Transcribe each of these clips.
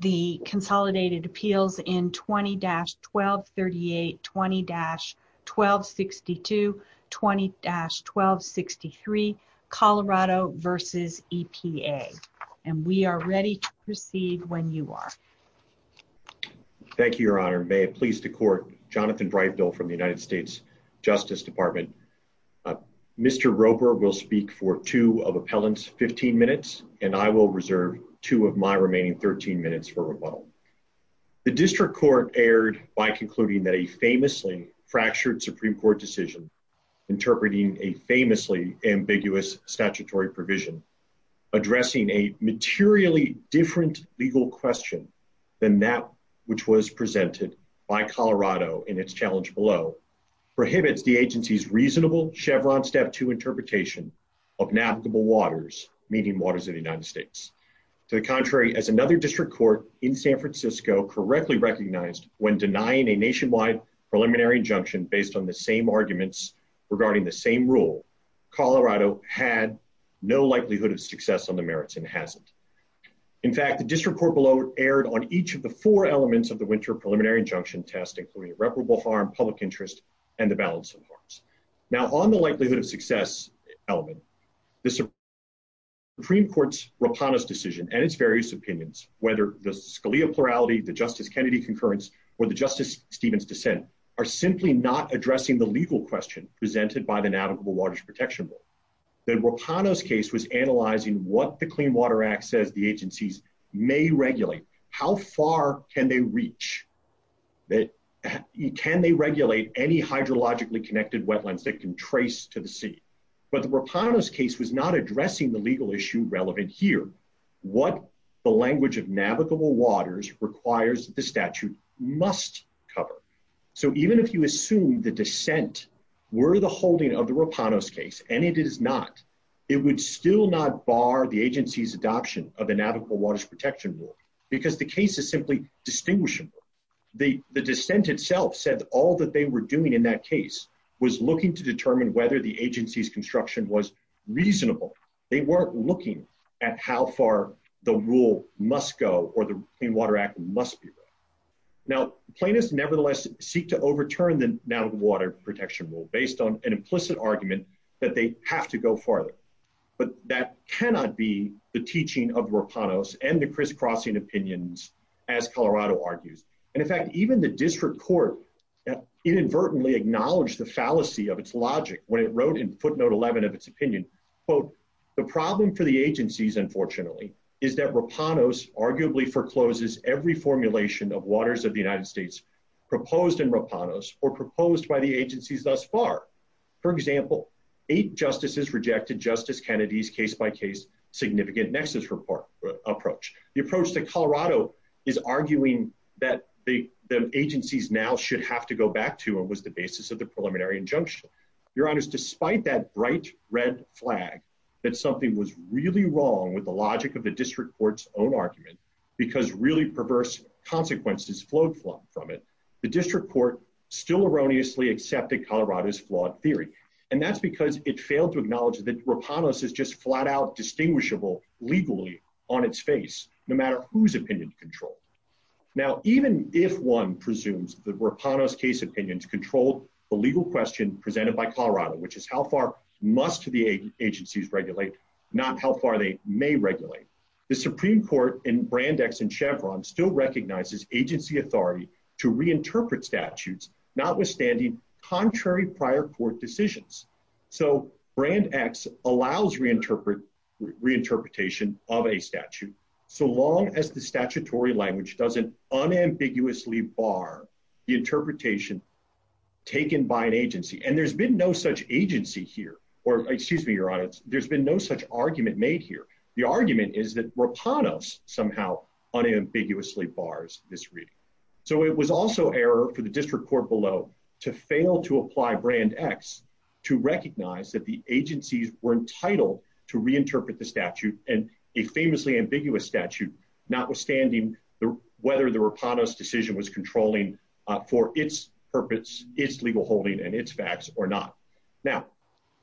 The Consolidated Appeals in 20-1238, 20-1262, 20-1263, Colorado v. EPA And we are ready to proceed when you are Thank you, Your Honor. May it please the Court, Jonathan Dreifdahl from the United States Justice Department Mr. Roper will speak for two of Appellant's 15 minutes And I will reserve two of my remaining 13 minutes for rebuttal The District Court erred by concluding that a famously fractured Supreme Court decision Interpreting a famously ambiguous statutory provision Addressing a materially different legal question than that which was presented by Colorado in its challenge below Prohibits the agency's reasonable Chevron Step 2 interpretation of navigable waters, meaning waters of the United States To the contrary, as another District Court in San Francisco correctly recognized When denying a nationwide preliminary injunction based on the same arguments regarding the same rule Colorado had no likelihood of success on the merits and hasn't In fact, the District Court below erred on each of the four elements of the winter preliminary injunction test Including irreparable harm, public interest, and the balance of harms Now, on the likelihood of success element The Supreme Court's Rapanos decision and its various opinions Whether the Scalia plurality, the Justice Kennedy concurrence, or the Justice Stevens dissent Are simply not addressing the legal question presented by the navigable waters protection rule The Rapanos case was analyzing what the Clean Water Act says the agencies may regulate How far can they reach? Can they regulate any hydrologically connected wetlands that can trace to the sea? But the Rapanos case was not addressing the legal issue relevant here What the language of navigable waters requires the statute must cover So even if you assume the dissent were the holding of the Rapanos case And it is not, it would still not bar the agency's adoption of the navigable waters protection rule Because the case is simply distinguishable The dissent itself said all that they were doing in that case Was looking to determine whether the agency's construction was reasonable They weren't looking at how far the rule must go or the Clean Water Act must be read Now, plaintiffs nevertheless seek to overturn the navigable waters protection rule Based on an implicit argument that they have to go farther But that cannot be the teaching of Rapanos and the crisscrossing opinions as Colorado argues And in fact even the district court inadvertently acknowledged the fallacy of its logic When it wrote in footnote 11 of its opinion Quote, the problem for the agencies unfortunately Is that Rapanos arguably forecloses every formulation of waters of the United States Proposed in Rapanos or proposed by the agencies thus far For example, eight justices rejected Justice Kennedy's case-by-case significant nexus approach The approach that Colorado is arguing that the agencies now should have to go back to Was the basis of the preliminary injunction Your honors, despite that bright red flag That something was really wrong with the logic of the district court's own argument Because really perverse consequences flowed from it The district court still erroneously accepted Colorado's flawed theory And that's because it failed to acknowledge that Rapanos is just flat-out distinguishable legally on its face No matter whose opinion control Now even if one presumes that Rapanos case opinions control the legal question presented by Colorado Which is how far must the agencies regulate not how far they may regulate The Supreme Court in Brand X and Chevron still recognizes agency authority to reinterpret statutes Notwithstanding contrary prior court decisions So Brand X allows reinterpretation of a statute So long as the statutory language doesn't unambiguously bar the interpretation taken by an agency And there's been no such agency here Or excuse me, your honors, there's been no such argument made here The argument is that Rapanos somehow unambiguously bars this reading So it was also error for the district court below to fail to apply Brand X To recognize that the agencies were entitled to reinterpret the statute And a famously ambiguous statute Notwithstanding whether the Rapanos decision was controlling for its purpose Its legal holding and its facts or not Now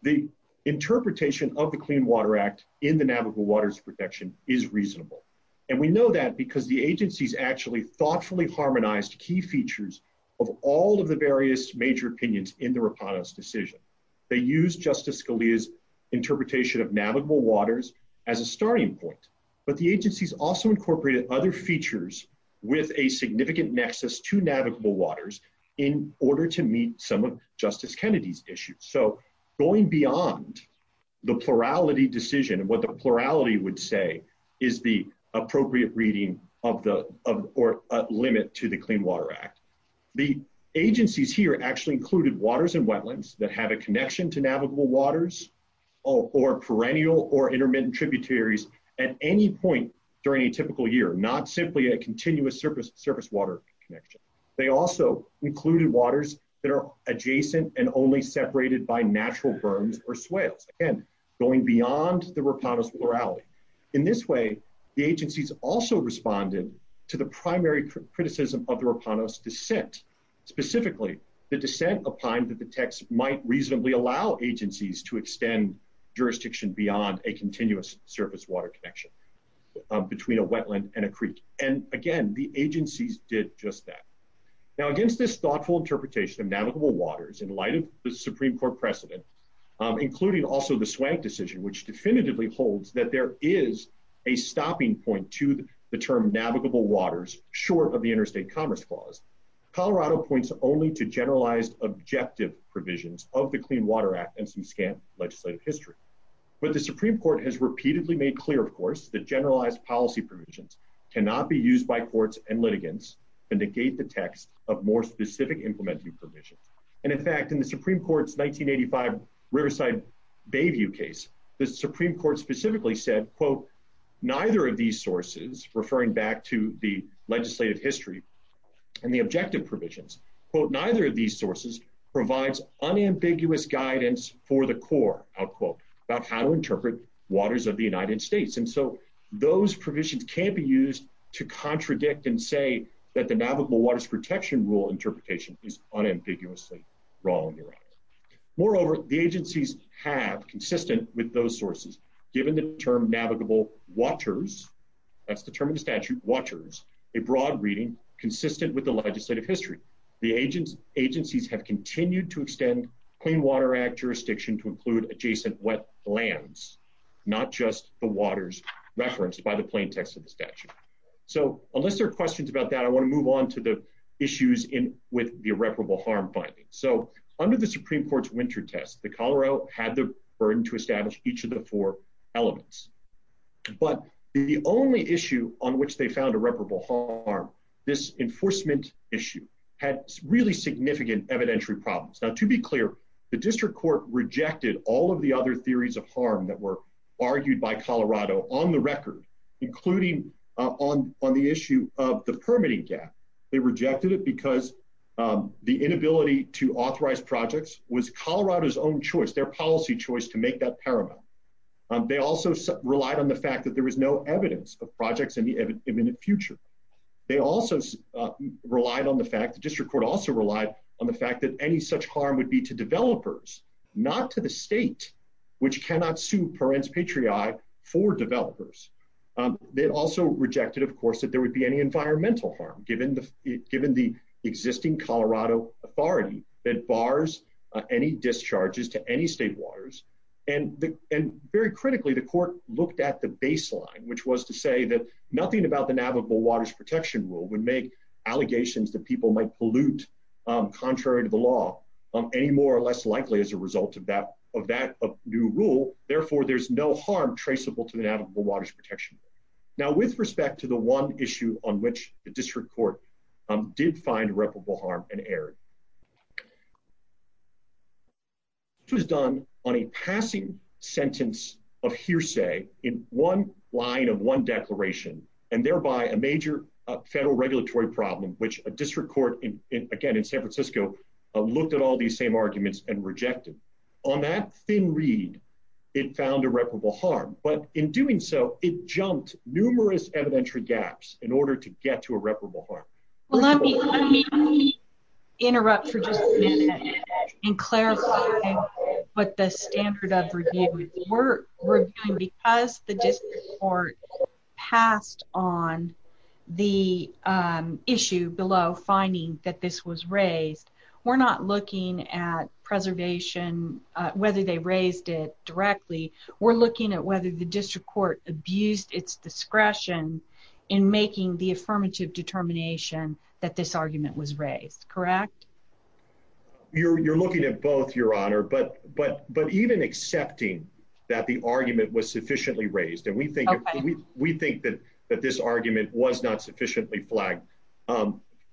the interpretation of the Clean Water Act in the Navigable Waters Protection is reasonable And we know that because the agencies actually thoughtfully harmonized key features Of all of the various major opinions in the Rapanos decision They used Justice Scalia's interpretation of navigable waters as a starting point But the agencies also incorporated other features with a significant nexus to navigable waters In order to meet some of Justice Kennedy's issues So going beyond the plurality decision What the plurality would say is the appropriate reading or limit to the Clean Water Act The agencies here actually included waters and wetlands that have a connection to navigable waters Or perennial or intermittent tributaries at any point during a typical year Not simply a continuous surface water connection They also included waters that are adjacent and only separated by natural berms or swales Again, going beyond the Rapanos plurality In this way, the agencies also responded to the primary criticism of the Rapanos dissent Specifically, the dissent opined that the text might reasonably allow agencies to extend jurisdiction Beyond a continuous surface water connection between a wetland and a creek And again, the agencies did just that Now against this thoughtful interpretation of navigable waters In light of the Supreme Court precedent Including also the Swank decision Which definitively holds that there is a stopping point to the term navigable waters Short of the interstate commerce clause Colorado points only to generalized objective provisions of the Clean Water Act But the Supreme Court has repeatedly made clear, of course That generalized policy provisions cannot be used by courts and litigants To negate the text of more specific implementing provisions And in fact, in the Supreme Court's 1985 Riverside Bayview case The Supreme Court specifically said Quote, neither of these sources Referring back to the legislative history and the objective provisions Quote, neither of these sources provides unambiguous guidance for the Corps Outquote, about how to interpret waters of the United States And so those provisions can't be used to contradict and say That the navigable waters protection rule interpretation is unambiguously wrong Moreover, the agencies have, consistent with those sources Given the term navigable waters That's the term in the statute, waters A broad reading, consistent with the legislative history The agencies have continued to extend Clean Water Act jurisdiction To include adjacent wetlands Not just the waters referenced by the plain text of the statute So unless there are questions about that I want to move on to the issues with the irreparable harm finding So under the Supreme Court's winter test The Colorado had the burden to establish each of the four elements But the only issue on which they found irreparable harm This enforcement issue Had really significant evidentiary problems Now to be clear, the district court rejected all of the other theories of harm That were argued by Colorado on the record Including on the issue of the permitting gap They rejected it because the inability to authorize projects Was Colorado's own choice, their policy choice to make that paramount They also relied on the fact that there was no evidence of projects in the imminent future They also relied on the fact, the district court also relied On the fact that any such harm would be to developers Not to the state, which cannot sue Parents Patriot for developers They also rejected, of course, that there would be any environmental harm Given the existing Colorado authority that bars any discharges to any state waters And very critically, the court looked at the baseline Which was to say that nothing about the Navigable Waters Protection Rule Would make allegations that people might pollute Contrary to the law, any more or less likely as a result of that new rule Therefore, there's no harm traceable to the Navigable Waters Protection Rule Now with respect to the one issue on which the district court Did find irreparable harm and erred It was done on a passing sentence of hearsay In one line of one declaration And thereby a major federal regulatory problem Which a district court, again in San Francisco Looked at all these same arguments and rejected On that thin read, it found irreparable harm But in doing so, it jumped numerous evidentiary gaps In order to get to irreparable harm Let me interrupt for just a minute And clarify what the standard of review is We're reviewing because the district court Passed on the issue below Finding that this was raised We're not looking at preservation Whether they raised it directly We're looking at whether the district court abused its discretion In making the affirmative determination You're looking at both, your honor But even accepting that the argument was sufficiently raised And we think that this argument was not sufficiently flagged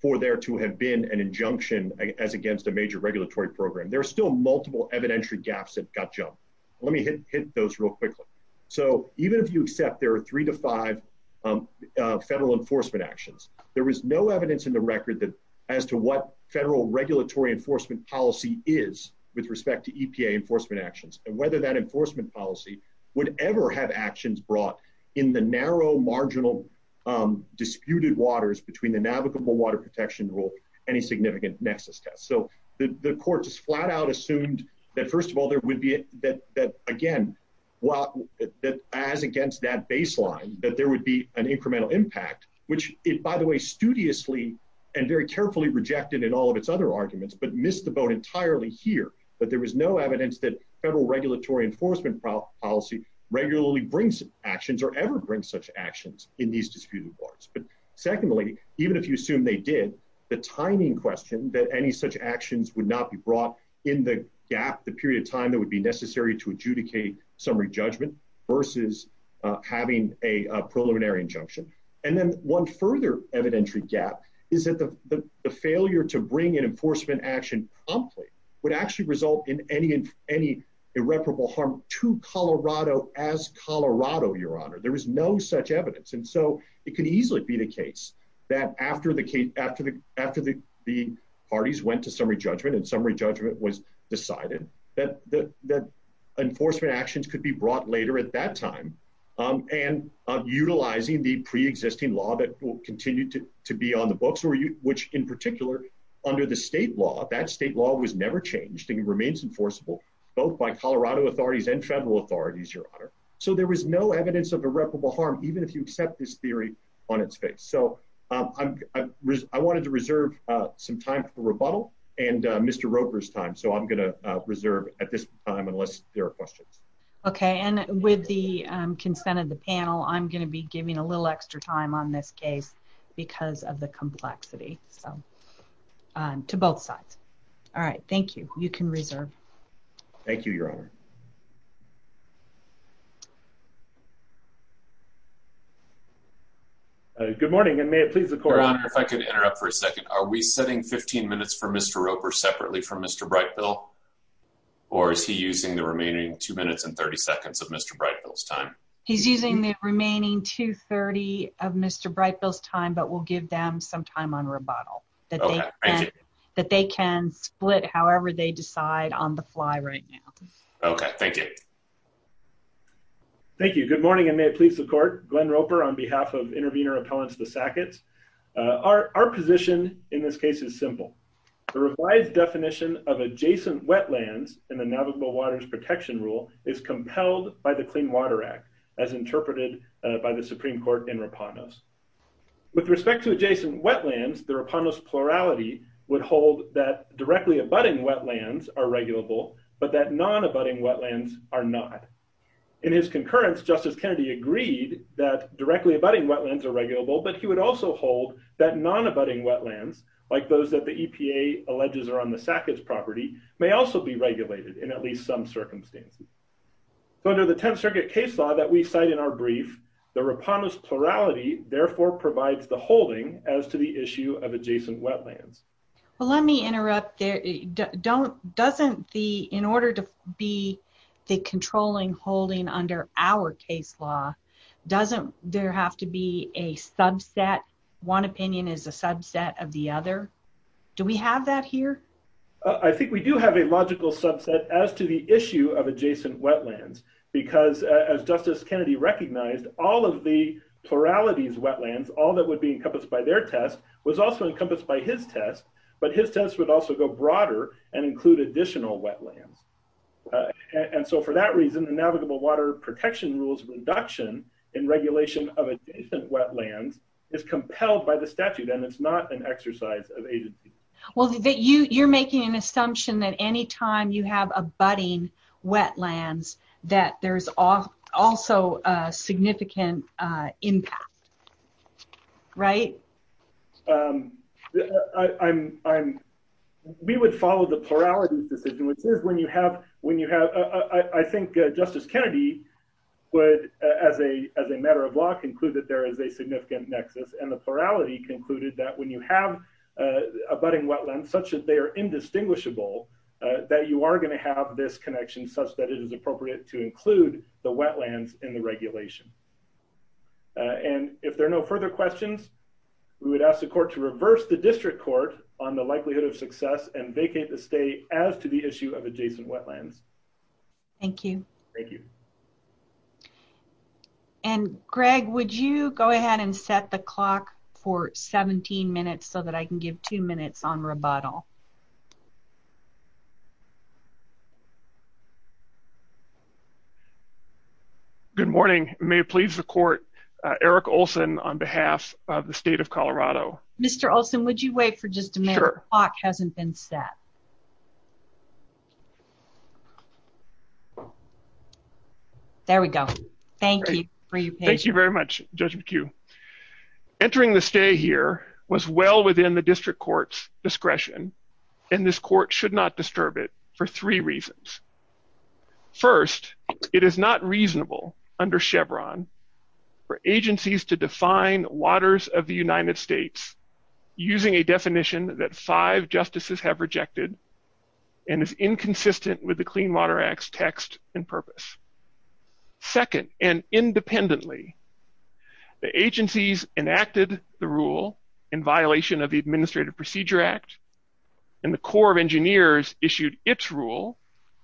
For there to have been an injunction As against a major regulatory program There are still multiple evidentiary gaps that got jumped Let me hit those real quickly So even if you accept there are three to five Federal enforcement actions There is no evidence in the record As to what federal regulatory enforcement policy is With respect to EPA enforcement actions And whether that enforcement policy Would ever have actions brought In the narrow, marginal, disputed waters Between the navigable water protection rule Any significant nexus test So the court just flat out assumed That first of all, there would be That again, as against that baseline That there would be an incremental impact Which it, by the way, studiously And very carefully rejected in all of its other arguments But missed the boat entirely here That there was no evidence that Federal regulatory enforcement policy Regularly brings actions Or ever brings such actions In these disputed waters But secondly, even if you assume they did The timing question that any such actions Would not be brought in the gap The period of time that would be necessary To adjudicate summary judgment Versus having a preliminary injunction And then one further evidentiary gap Is that the failure to bring An enforcement action promptly Would actually result in any Irreparable harm to Colorado As Colorado, your honor There is no such evidence And so it could easily be the case That after the parties went to summary judgment And summary judgment was decided That enforcement actions could be brought Later at that time And utilizing the preexisting law That will continue to be on the books Which, in particular, under the state law That state law was never changed And remains enforceable Both by Colorado authorities And federal authorities, your honor So there was no evidence of irreparable harm Even if you accept this theory on its face So I wanted to reserve some time for rebuttal And Mr. Roper's time So I'm going to reserve at this time Unless there are questions Okay, and with the consent of the panel I'm going to be giving a little extra time On this case because of the complexity To both sides All right, thank you You can reserve Thank you, your honor Good morning, and may it please the court Your honor, if I could interrupt for a second Are we setting 15 minutes for Mr. Roper Separately from Mr. Brightville Or is he using the remaining Two minutes and 30 seconds of Mr. Brightville's time He's using the remaining 2 minutes and 30 seconds Of Mr. Brightville's time But we'll give them some time on rebuttal Okay, thank you That they can split however they decide On the fly right now Okay, thank you Thank you, good morning, and may it please the court Glenn Roper on behalf of Intervenor Appellants, the Sacketts Our position in this case is simple The revised definition of adjacent wetlands In the Navigable Waters Protection Rule Is compelled by the Clean Water Act As interpreted by the Supreme Court In Rapanos With respect to adjacent wetlands The Rapanos plurality would hold That directly abutting wetlands Are regulable, but that non-abutting Wetlands are not In his concurrence, Justice Kennedy agreed That directly abutting wetlands Are regulable, but he would also hold That non-abutting wetlands Like those that the EPA alleges Are on the Sacketts property May also be regulated In at least some circumstances Under the Tenth Circuit case law that we cite in our brief The Rapanos plurality Therefore provides the holding As to the issue of adjacent wetlands Well let me interrupt Doesn't the In order to be The controlling holding under Our case law Doesn't there have to be a subset One opinion is a subset Of the other Do we have that here I think we do have a logical subset As to the issue of adjacent wetlands Because as Justice Kennedy Recognized all of the Pluralities wetlands All that would be encompassed by their test Was also encompassed by his test But his test would also go broader And include additional wetlands And so for that reason The navigable water protection rules Reduction in regulation of Adjacent wetlands is compelled By the statute and it's not an exercise Of agency You're making an assumption that any time You have a budding wetlands That there's Also a significant Impact Right We would follow the plurality Decision which is when you have I think Justice Kennedy would As a matter of law conclude that there And so the plurality concluded That when you have A budding wetlands such that they are Indistinguishable that you are going To have this connection such that it is Appropriate to include the wetlands In the regulation And if there are no further questions We would ask the court to reverse The district court on the likelihood Of success and vacate the state As to the issue of adjacent wetlands Thank you Thank you And Greg Would you go ahead and set the clock For 17 minutes so that I can give two minutes on rebuttal Good morning May it please the court Eric Olson on behalf of the state of Colorado Mr. Olson would you wait for just a minute The clock hasn't been set There we go Thank you very much Judge McHugh Entering the stay here was well Within the district court's discretion And this court should not disturb It for three reasons First it is Not reasonable under Chevron For agencies to define Waters of the United States Using a definition That five justices have rejected And is inconsistent With the Clean Water Act's text And purpose Second and independently The agencies enacted The rule in violation Of the Administrative Procedure Act And the Corps of Engineers Issued its rule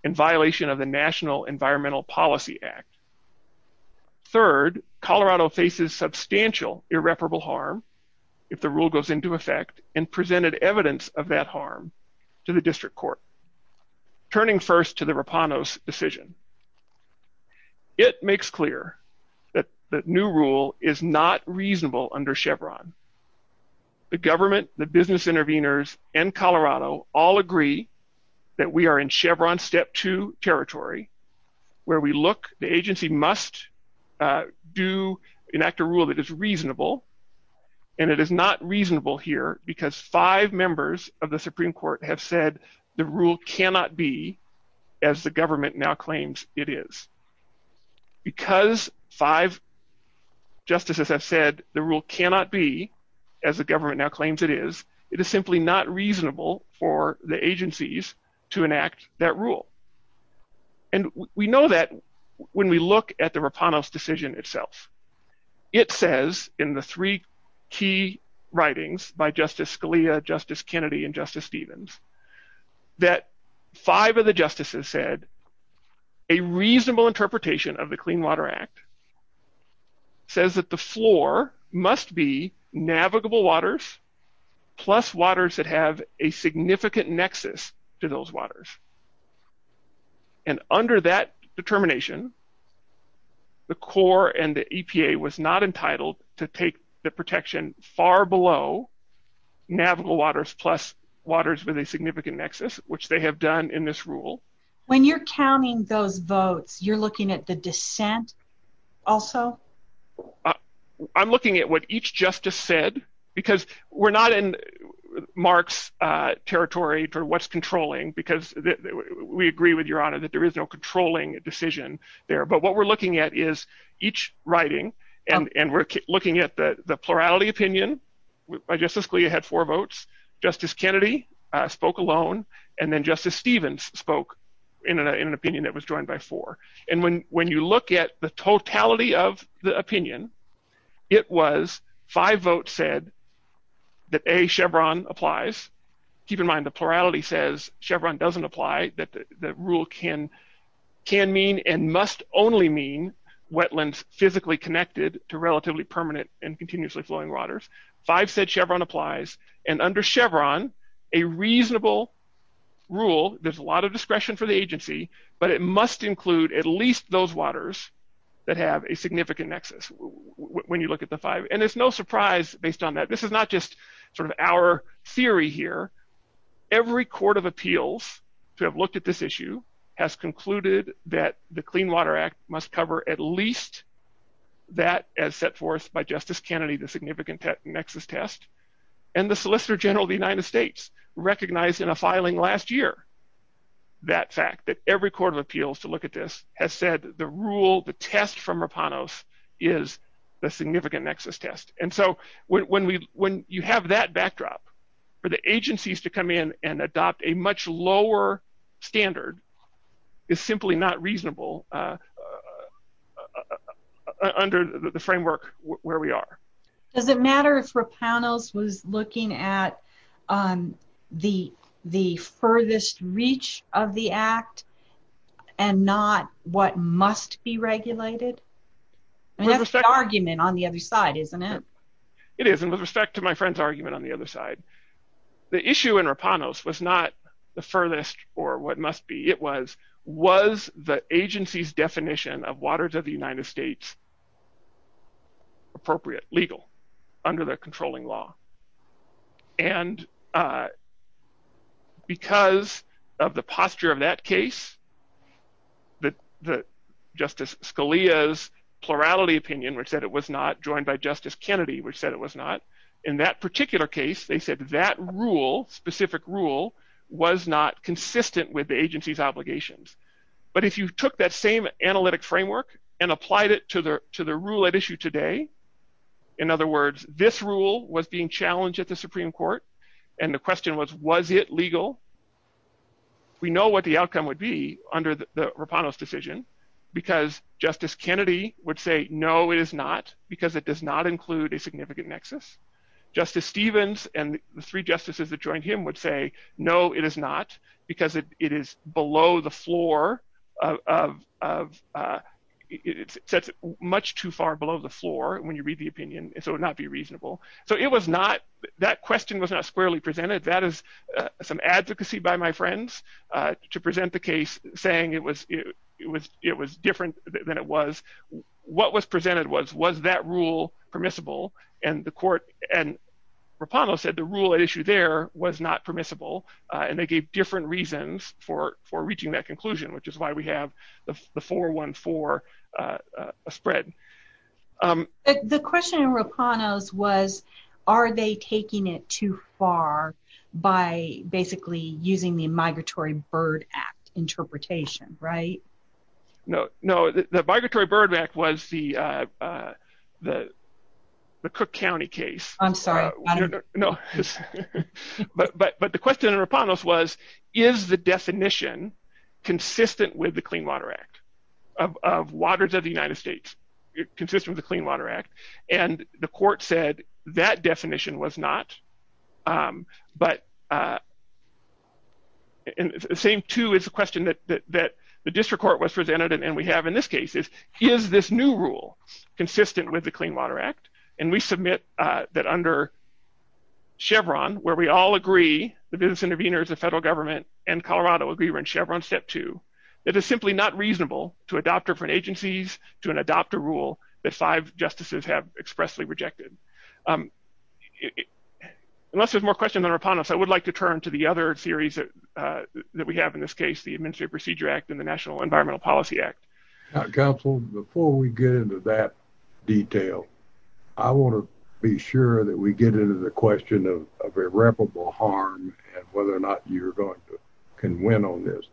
in violation Of the National Environmental Policy Act Third Colorado faces substantial Irreparable harm If the rule goes into effect And presented evidence of that harm To the district court Turning first to the Rapano's Decision It makes clear That new rule is not reasonable Under Chevron The government, the business intervenors And Colorado all agree That we are in Chevron step Two territory Where we look the agency must Do Enact a rule that is reasonable And it is not reasonable here Because five members of the Supreme Court have said the rule cannot Be as the government Now claims it is Because five Justices have said The rule cannot be as the Government now claims it is, it is simply Not reasonable for the agencies To enact that rule And we know That when we look at the Rapano's Decision itself It says in the three Key writings by Justice Scalia, Justice Kennedy and Justice Stevens That five of the justices said A reasonable interpretation Of the Clean Water Act Says that the floor Must be navigable Waters plus Waters that have a significant Nexus to those waters And under that Determination The core and the EPA Was not entitled to take The protection far below Navigable waters plus Waters with a significant nexus Which they have done in this rule When you're counting those votes You're looking at the dissent Also I'm looking at what each justice said Because we're not in Mark's territory For what's controlling because We agree with your honor that there is No controlling decision there But what we're looking at is each Writing and we're looking at The plurality opinion By Justice Scalia had four votes Justice Kennedy spoke alone And then Justice Stevens spoke In an opinion that was joined by four And when you look at the Totality of the opinion It was five votes Said that Chevron applies Keep in mind the plurality says Chevron doesn't Apply that the rule can Can mean and must only mean Wetlands physically connected To relatively permanent and continuously Flowing waters five said Chevron Applies and under Chevron A reasonable Rule there's a lot of discretion for the agency But it must include at least Those waters that have A significant nexus when you Look at the five and it's no surprise based On that this is not just sort of our Theory here Every court of appeals to have Concluded that the Clean Water Act must cover at least That as set forth by Justice Kennedy the significant nexus Test and the solicitor general The United States recognized in a Filing last year That fact that every court of appeals to Look at this has said the rule The test from Rapanos is The significant nexus test and So when we when you have That backdrop for the agencies To come in and adopt a much lower Standard is Simply not reasonable Under the framework where we are Does it matter if Rapanos Was looking at The Furthest reach of the act And not What must be regulated That's the argument On the other side isn't it It is and with respect to my friend's argument on the other side The issue in Rapanos Was not the furthest Or what must be it was Was the agency's definition Of waters of the United States Appropriate Legal under the controlling law And Because Of the posture of that case That Justice Scalia's Plurality opinion which said it was not Joined by Justice Kennedy which said it was not In that particular case They said that rule specific Rule was not consistent With the agency's obligations But if you took that same analytic Framework and applied it to the Rule at issue today In other words this rule was being Challenged at the Supreme Court and The question was was it legal We know what the outcome Would be under the Rapanos decision Because Justice Kennedy Would say no it is not Because it does not include a significant nexus Justice Stevens and the three Justices that joined him would say no It is not because it is Below the floor Of It sets much too far below The floor when you read the opinion so it would not be Reasonable so it was not That question was not squarely presented that is Some advocacy by my friends To present the case Saying it was Different than it was What was presented was was that rule Permissible and the court And Rapanos said the rule at issue There was not permissible And they gave different reasons for Reaching that conclusion which is why we have The 414 Spread The question in Rapanos Was are they taking It too far by Basically using the Migratory Bird Act interpretation Right No the Migratory Bird Act was The Cook County case I'm sorry But the question in Rapanos Was is the definition Consistent with the Clean Water Act of Waters of the United States Consistent with the Clean Water Act and the Court said that definition was Not But The same too is the question That the district court was presented And we have in this case is This new rule consistent with the Clean Water Act and we submit That under Chevron where we all agree The business intervenors the federal government and Colorado agree we're in Chevron step two It is simply not reasonable to adopt Different agencies to an adopter rule That five justices have expressly Rejected Unless there's more questions On Rapanos I would like to turn to the other series That we have in this case The Administrative Procedure Act and the National Environmental Policy Act council before We get into that detail I want to be Sure that we get into the question Of irreparable harm And whether or not you're going to can Win on this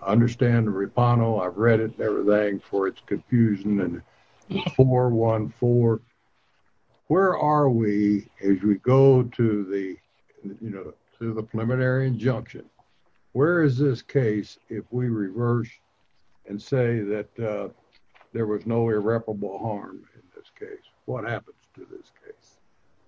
Understand Rapano I've read it everything for its Confusion and 414 Where are we as we go To the you know To the preliminary injunction Where is this case if we Reverse and say That there was no irreparable Harm in this case What happens to this case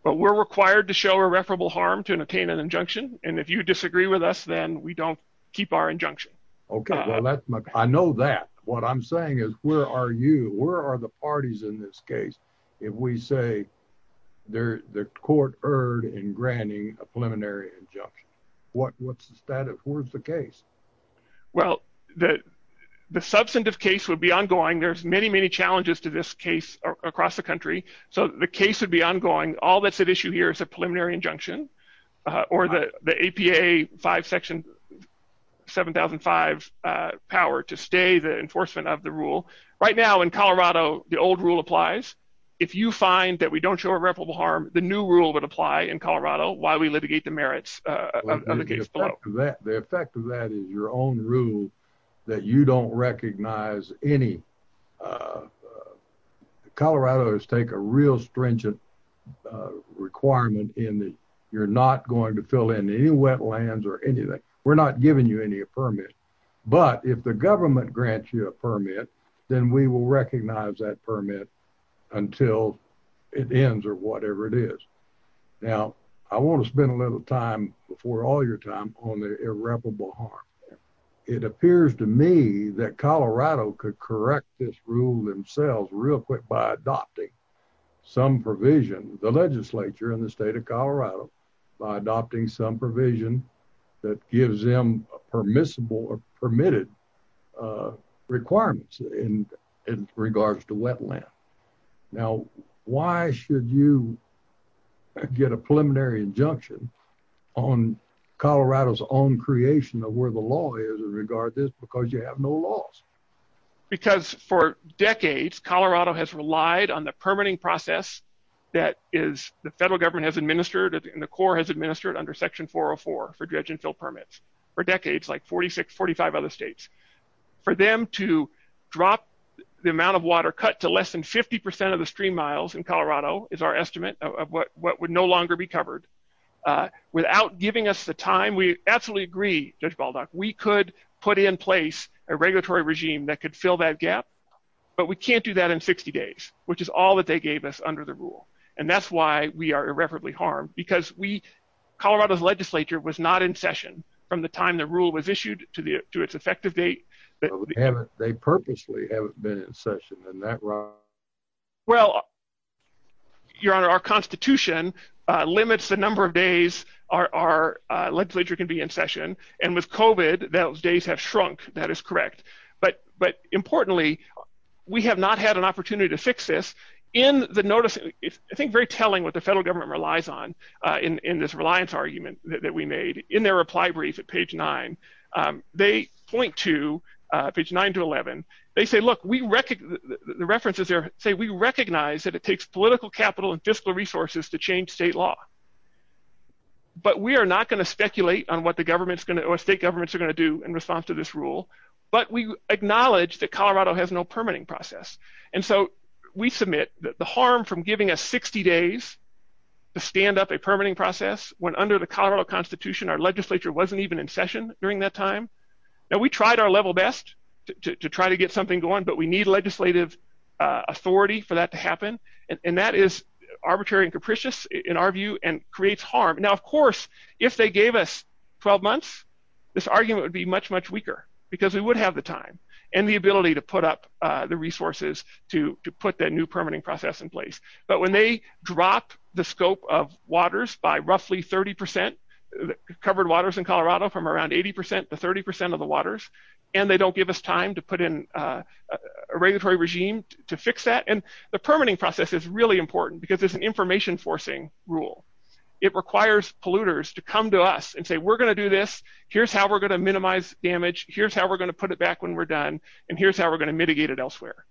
But we're required to show irreparable harm To attain an injunction and if you disagree With us then we don't keep our injunction Okay well that's my I know That what I'm saying is where are You where are the parties in this Case if we say There the court heard In granting a preliminary injunction What what's the status Of the case well The the substantive case Would be ongoing there's many many challenges To this case across the country So the case would be ongoing all that's At issue here is a preliminary injunction Or the the APA Five section 7005 power to stay The enforcement of the rule right now In Colorado the old rule applies If you find that we don't show irreparable Harm the new rule would apply in Colorado Why we litigate the merits Of the case the effect of that Is your own rule that You don't recognize any Colorado's take a real Stringent requirement In that you're not going To fill in any wetlands or anything We're not giving you any permit But if the government grants you A permit then we will recognize That permit until It ends or whatever it is Now I want to spend A little time before all your time On the irreparable harm It appears to me that Colorado could correct this rule Themselves real quick by adopting Some provision The legislature in the state of Colorado By adopting some provision That gives them A permissible or permitted Requirements In in regards to wetland Now why Should you Get a preliminary injunction On Colorado's own Creation of where the law is in regards To this because you have no laws Because for decades Colorado has relied on the permitting Process that is The federal government has administered And the Corps has administered under section 404 For dredge and fill permits for decades Like 46, 45 other states For them to drop The amount of water cut to less than 50 percent of the stream miles in Colorado Is our estimate of what would No longer be covered Without giving us the time We absolutely agree Judge Baldock We could put in place a regulatory Regime that could fill that gap But we can't do that in 60 days Which is all that they gave us under the rule And that's why we are irreparably harmed Because we Colorado's legislature Was not in session from the time The rule was issued to its effective date They purposely haven't been in session Well Your honor our constitution Limits the number of days Our legislature can be In session and with COVID Those days have shrunk that is correct But importantly We have not had an opportunity to fix this In the notice I think very telling what the federal government relies on In this reliance argument That we made in their reply brief at page 9 they point to Page 9 to 11 They say look we Say we recognize that it takes Political capital and fiscal resources to Change state law But we are not going to speculate on What the state governments are going to do In response to this rule but we Acknowledge that Colorado has no permitting Process and so we Submit that the harm from giving us 60 Days to stand up a Permitting process when under the Colorado Constitution our legislature wasn't even in Session during that time We tried our level best to try To get something going but we need legislative Authority for that to happen And that is arbitrary and Capricious in our view and creates Harm now of course if they gave us 12 months this argument Would be much much weaker because we would have The time and the ability to put up The resources to put That new permitting process in place but When they drop the scope of The permitting process They give us roughly 30% Covered waters in Colorado from around 80% to 30% of the waters And they don't give us time to put in A regulatory regime to Fix that and the permitting process is Really important because it's an information Forcing rule it requires Polluters to come to us and say we're Going to do this here's how we're going to Minimize damage here's how we're going to Put it back when we're done and here's how We're going to mitigate it elsewhere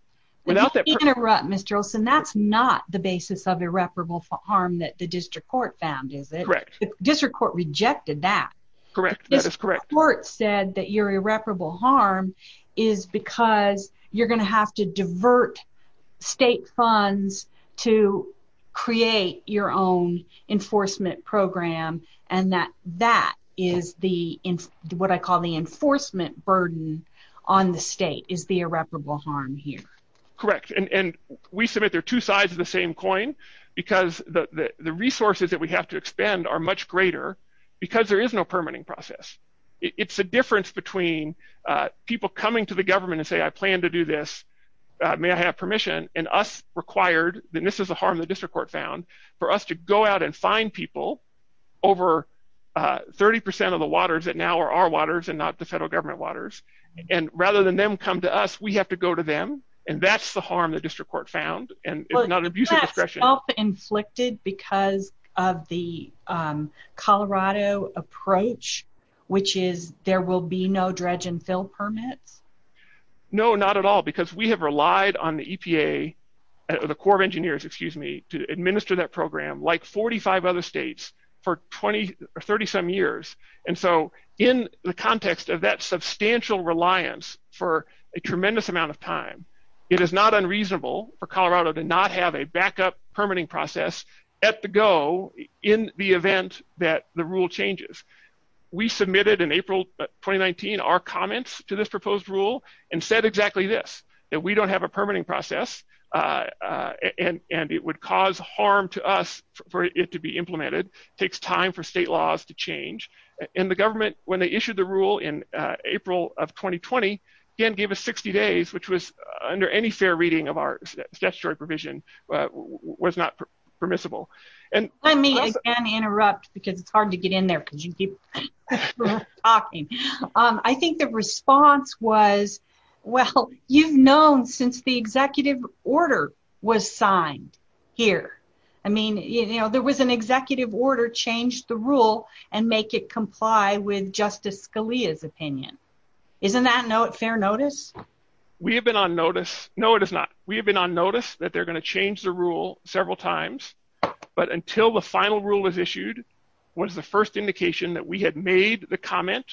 Without that interrupt mr. Olson That's not the basis of irreparable Harm that the district court found Is it correct district court rejected That correct that is correct Said that your irreparable harm Is because You're going to have to divert State funds to Create your own Enforcement program And that that is the What I call the enforcement Burden on the state Is the irreparable harm here Correct and we submit their two Sides of the same coin because The resources that we have to Expand are much greater because There is no permitting process It's a difference between People coming to the government and say I plan To do this may I have permission And us required that this is A harm the district court found for us to Go out and find people Over 30% of The waters that now are our waters and not the To us we have to go to them and that's The harm the district court found and Not abusive discretion Inflicted because of the Colorado approach Which is there Will be no dredge and fill permits No not at all because We have relied on the EPA The Corps of Engineers excuse me To administer that program like 45 Other states for 20 Or 30 some years and so In the context of that substantial Reliance for a tremendous Amount of time it is not unreasonable For Colorado to not have a backup Permitting process at the Go in the event That the rule changes We submitted in April 2019 Our comments to this proposed rule And said exactly this that we don't Have a permitting process And and it would cause harm To us for it to be implemented Takes time for state laws to change In the government when they issued The rule in April of 2020 again gave us 60 days Which was under any fair reading of Our statutory provision Was not permissible And let me interrupt Because it's hard to get in there because you keep Talking I think the response was Well you've known Since the executive order Was signed here I mean you know there was an executive Order changed the rule And make it comply with Justice Scalia's opinion Isn't that no fair notice We have been on notice. No it is not We have been on notice that they're going to change The rule several times But until the final rule was issued What is the first indication that we Had made the comment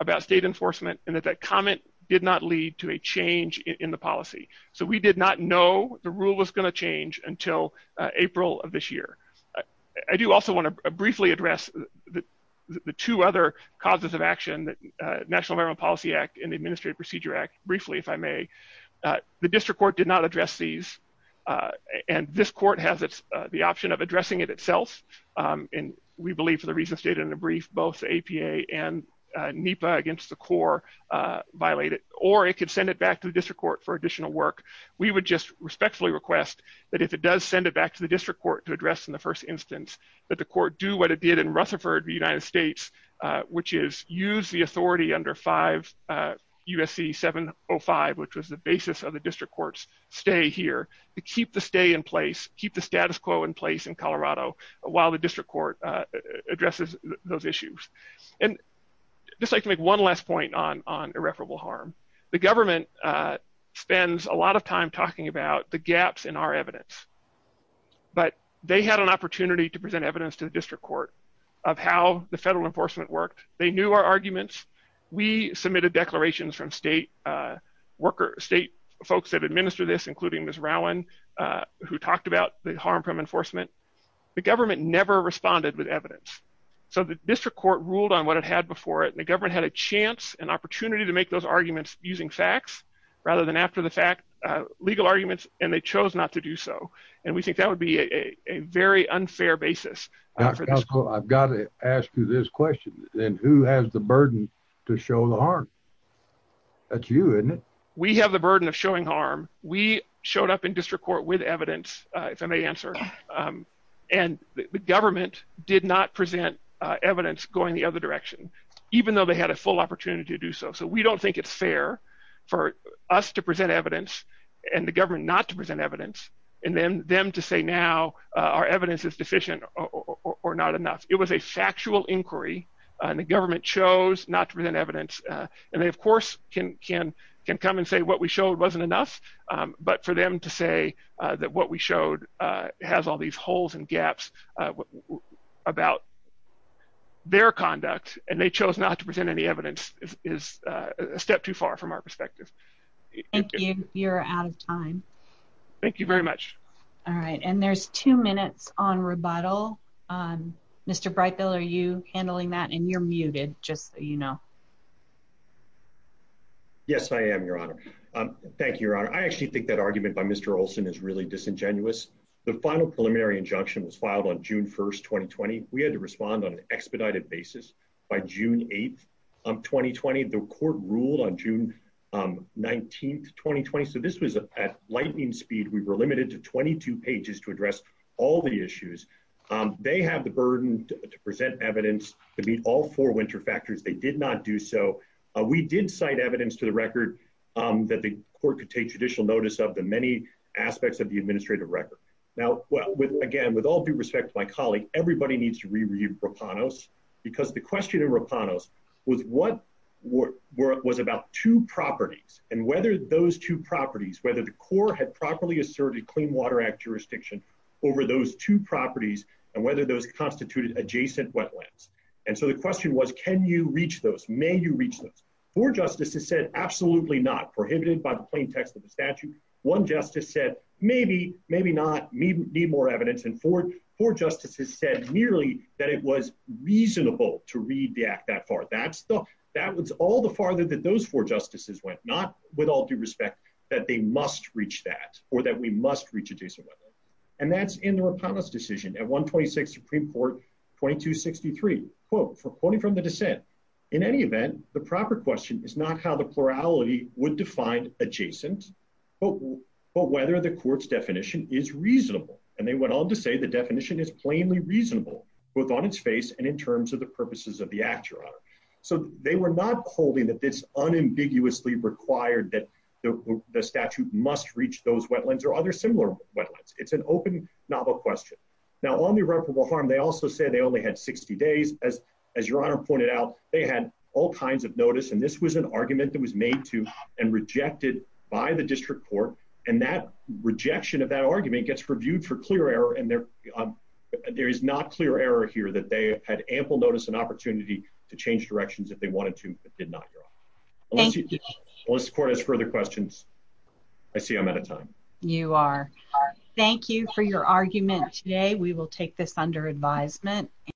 about State enforcement and that that comment did Not lead to a change in the policy So we did not know the rule Was going to change until April of this year I do also want to briefly Address the two Other causes of action National American Policy Act and the Administrative Procedure Act briefly if I may The district court did not address these And this court has The option of addressing it itself And we believe for the reasons stated In the brief both APA and NEPA against the core Violated or it could send it back to The district court for additional work. We would Just respectfully request that if it does Send it back to the district court to address in the first Instance that the court do what it did In Rutherford the United States Which is use the authority under Five USC 705 which was the basis of the district Courts stay here to keep The stay in place keep the status quo In place in Colorado while the district Court addresses those Issues and Just like to make one last point on irreparable Harm the government Spends a lot of time talking about The gaps in our evidence But they had an opportunity To present evidence to the district court Of how the federal enforcement worked They knew our arguments. We Submitted declarations from state Worker state folks that administer This including Miss Rowan Who talked about the harm from enforcement The government never responded With evidence. So the district Court ruled on what it had before it. The government Had a chance an opportunity to make those Arguments using facts rather than After the fact legal arguments And they chose not to do so. And we think That would be a very unfair Basis. I've got To ask you this question. Then who Has the burden to show the harm That you We have the burden of showing harm We showed up in district court with Evidence. If I may answer And the government Did not present evidence Going the other direction, even though they had A full opportunity to do so. So we don't think it's Fair for us to present Evidence and the government not to present Evidence and then them to say Now our evidence is deficient Or not enough. It was a factual Inquiry and the government Chose not to present evidence And they of course can Come and say what we showed wasn't enough But for them to say that what We showed has all these holes And gaps About their conduct And they chose not to present any evidence Is a step too far From our perspective. Thank you You're out of time. Thank You very much. All right. And there's Two minutes on rebuttal Mr. Breitbill, are you Handling that? And you're muted just So you know Yes, I am, Your Honor Thank you, Your Honor. I actually think that Argument by Mr. Olson is really disingenuous The final preliminary injunction Was filed on June 1st, 2020 We had to respond on an expedited basis By June 8th, 2020 The court ruled on June 19th, 2020 So this was at lightning speed We were limited to 22 pages to address All the issues They have the burden to present Evidence to meet all four winter factors They did not do so We did cite evidence to the record That the court could take judicial notice Of the many aspects of the administrative Record. Now again, with All due respect to my colleague, everybody needs to Understand that the question of Rapanos Was what Was about two properties And whether those two properties Whether the court had properly asserted Clean Water Act jurisdiction over those Two properties and whether those Constituted adjacent wetlands And so the question was, can you reach those? May you reach those? Four justices said Absolutely not. Prohibited by the plain text Of the statute. One justice said Maybe, maybe not Need more evidence and four Justices said nearly that it was Reasonable to read the act That far. That was all The farther that those four justices went Not with all due respect that they must Reach that or that we must reach Adjacent wetlands. And that's in the Rapanos Decision at 126 Supreme Court 2263 Quoting from the dissent In any event, the proper question is not how The plurality would define Adjacent but Whether the court's definition is reasonable And they went on to say the definition is Plainly reasonable, both on its face And in terms of the purposes of the act, Your Honor So they were not holding That this unambiguously required That the statute must Reach those wetlands or other similar wetlands It's an open, novel question Now on the irreparable harm, they also Say they only had 60 days As Your Honor pointed out, they had All kinds of notice and this was an argument That was made to and rejected By the district court and that There is no clear error Here that they had Ample notice and opportunity to change Directions if they wanted to but did not, Your Honor Thank you. Unless the court has Further questions, I see I'm Out of time. You are Thank you for your argument today We will take this under advisement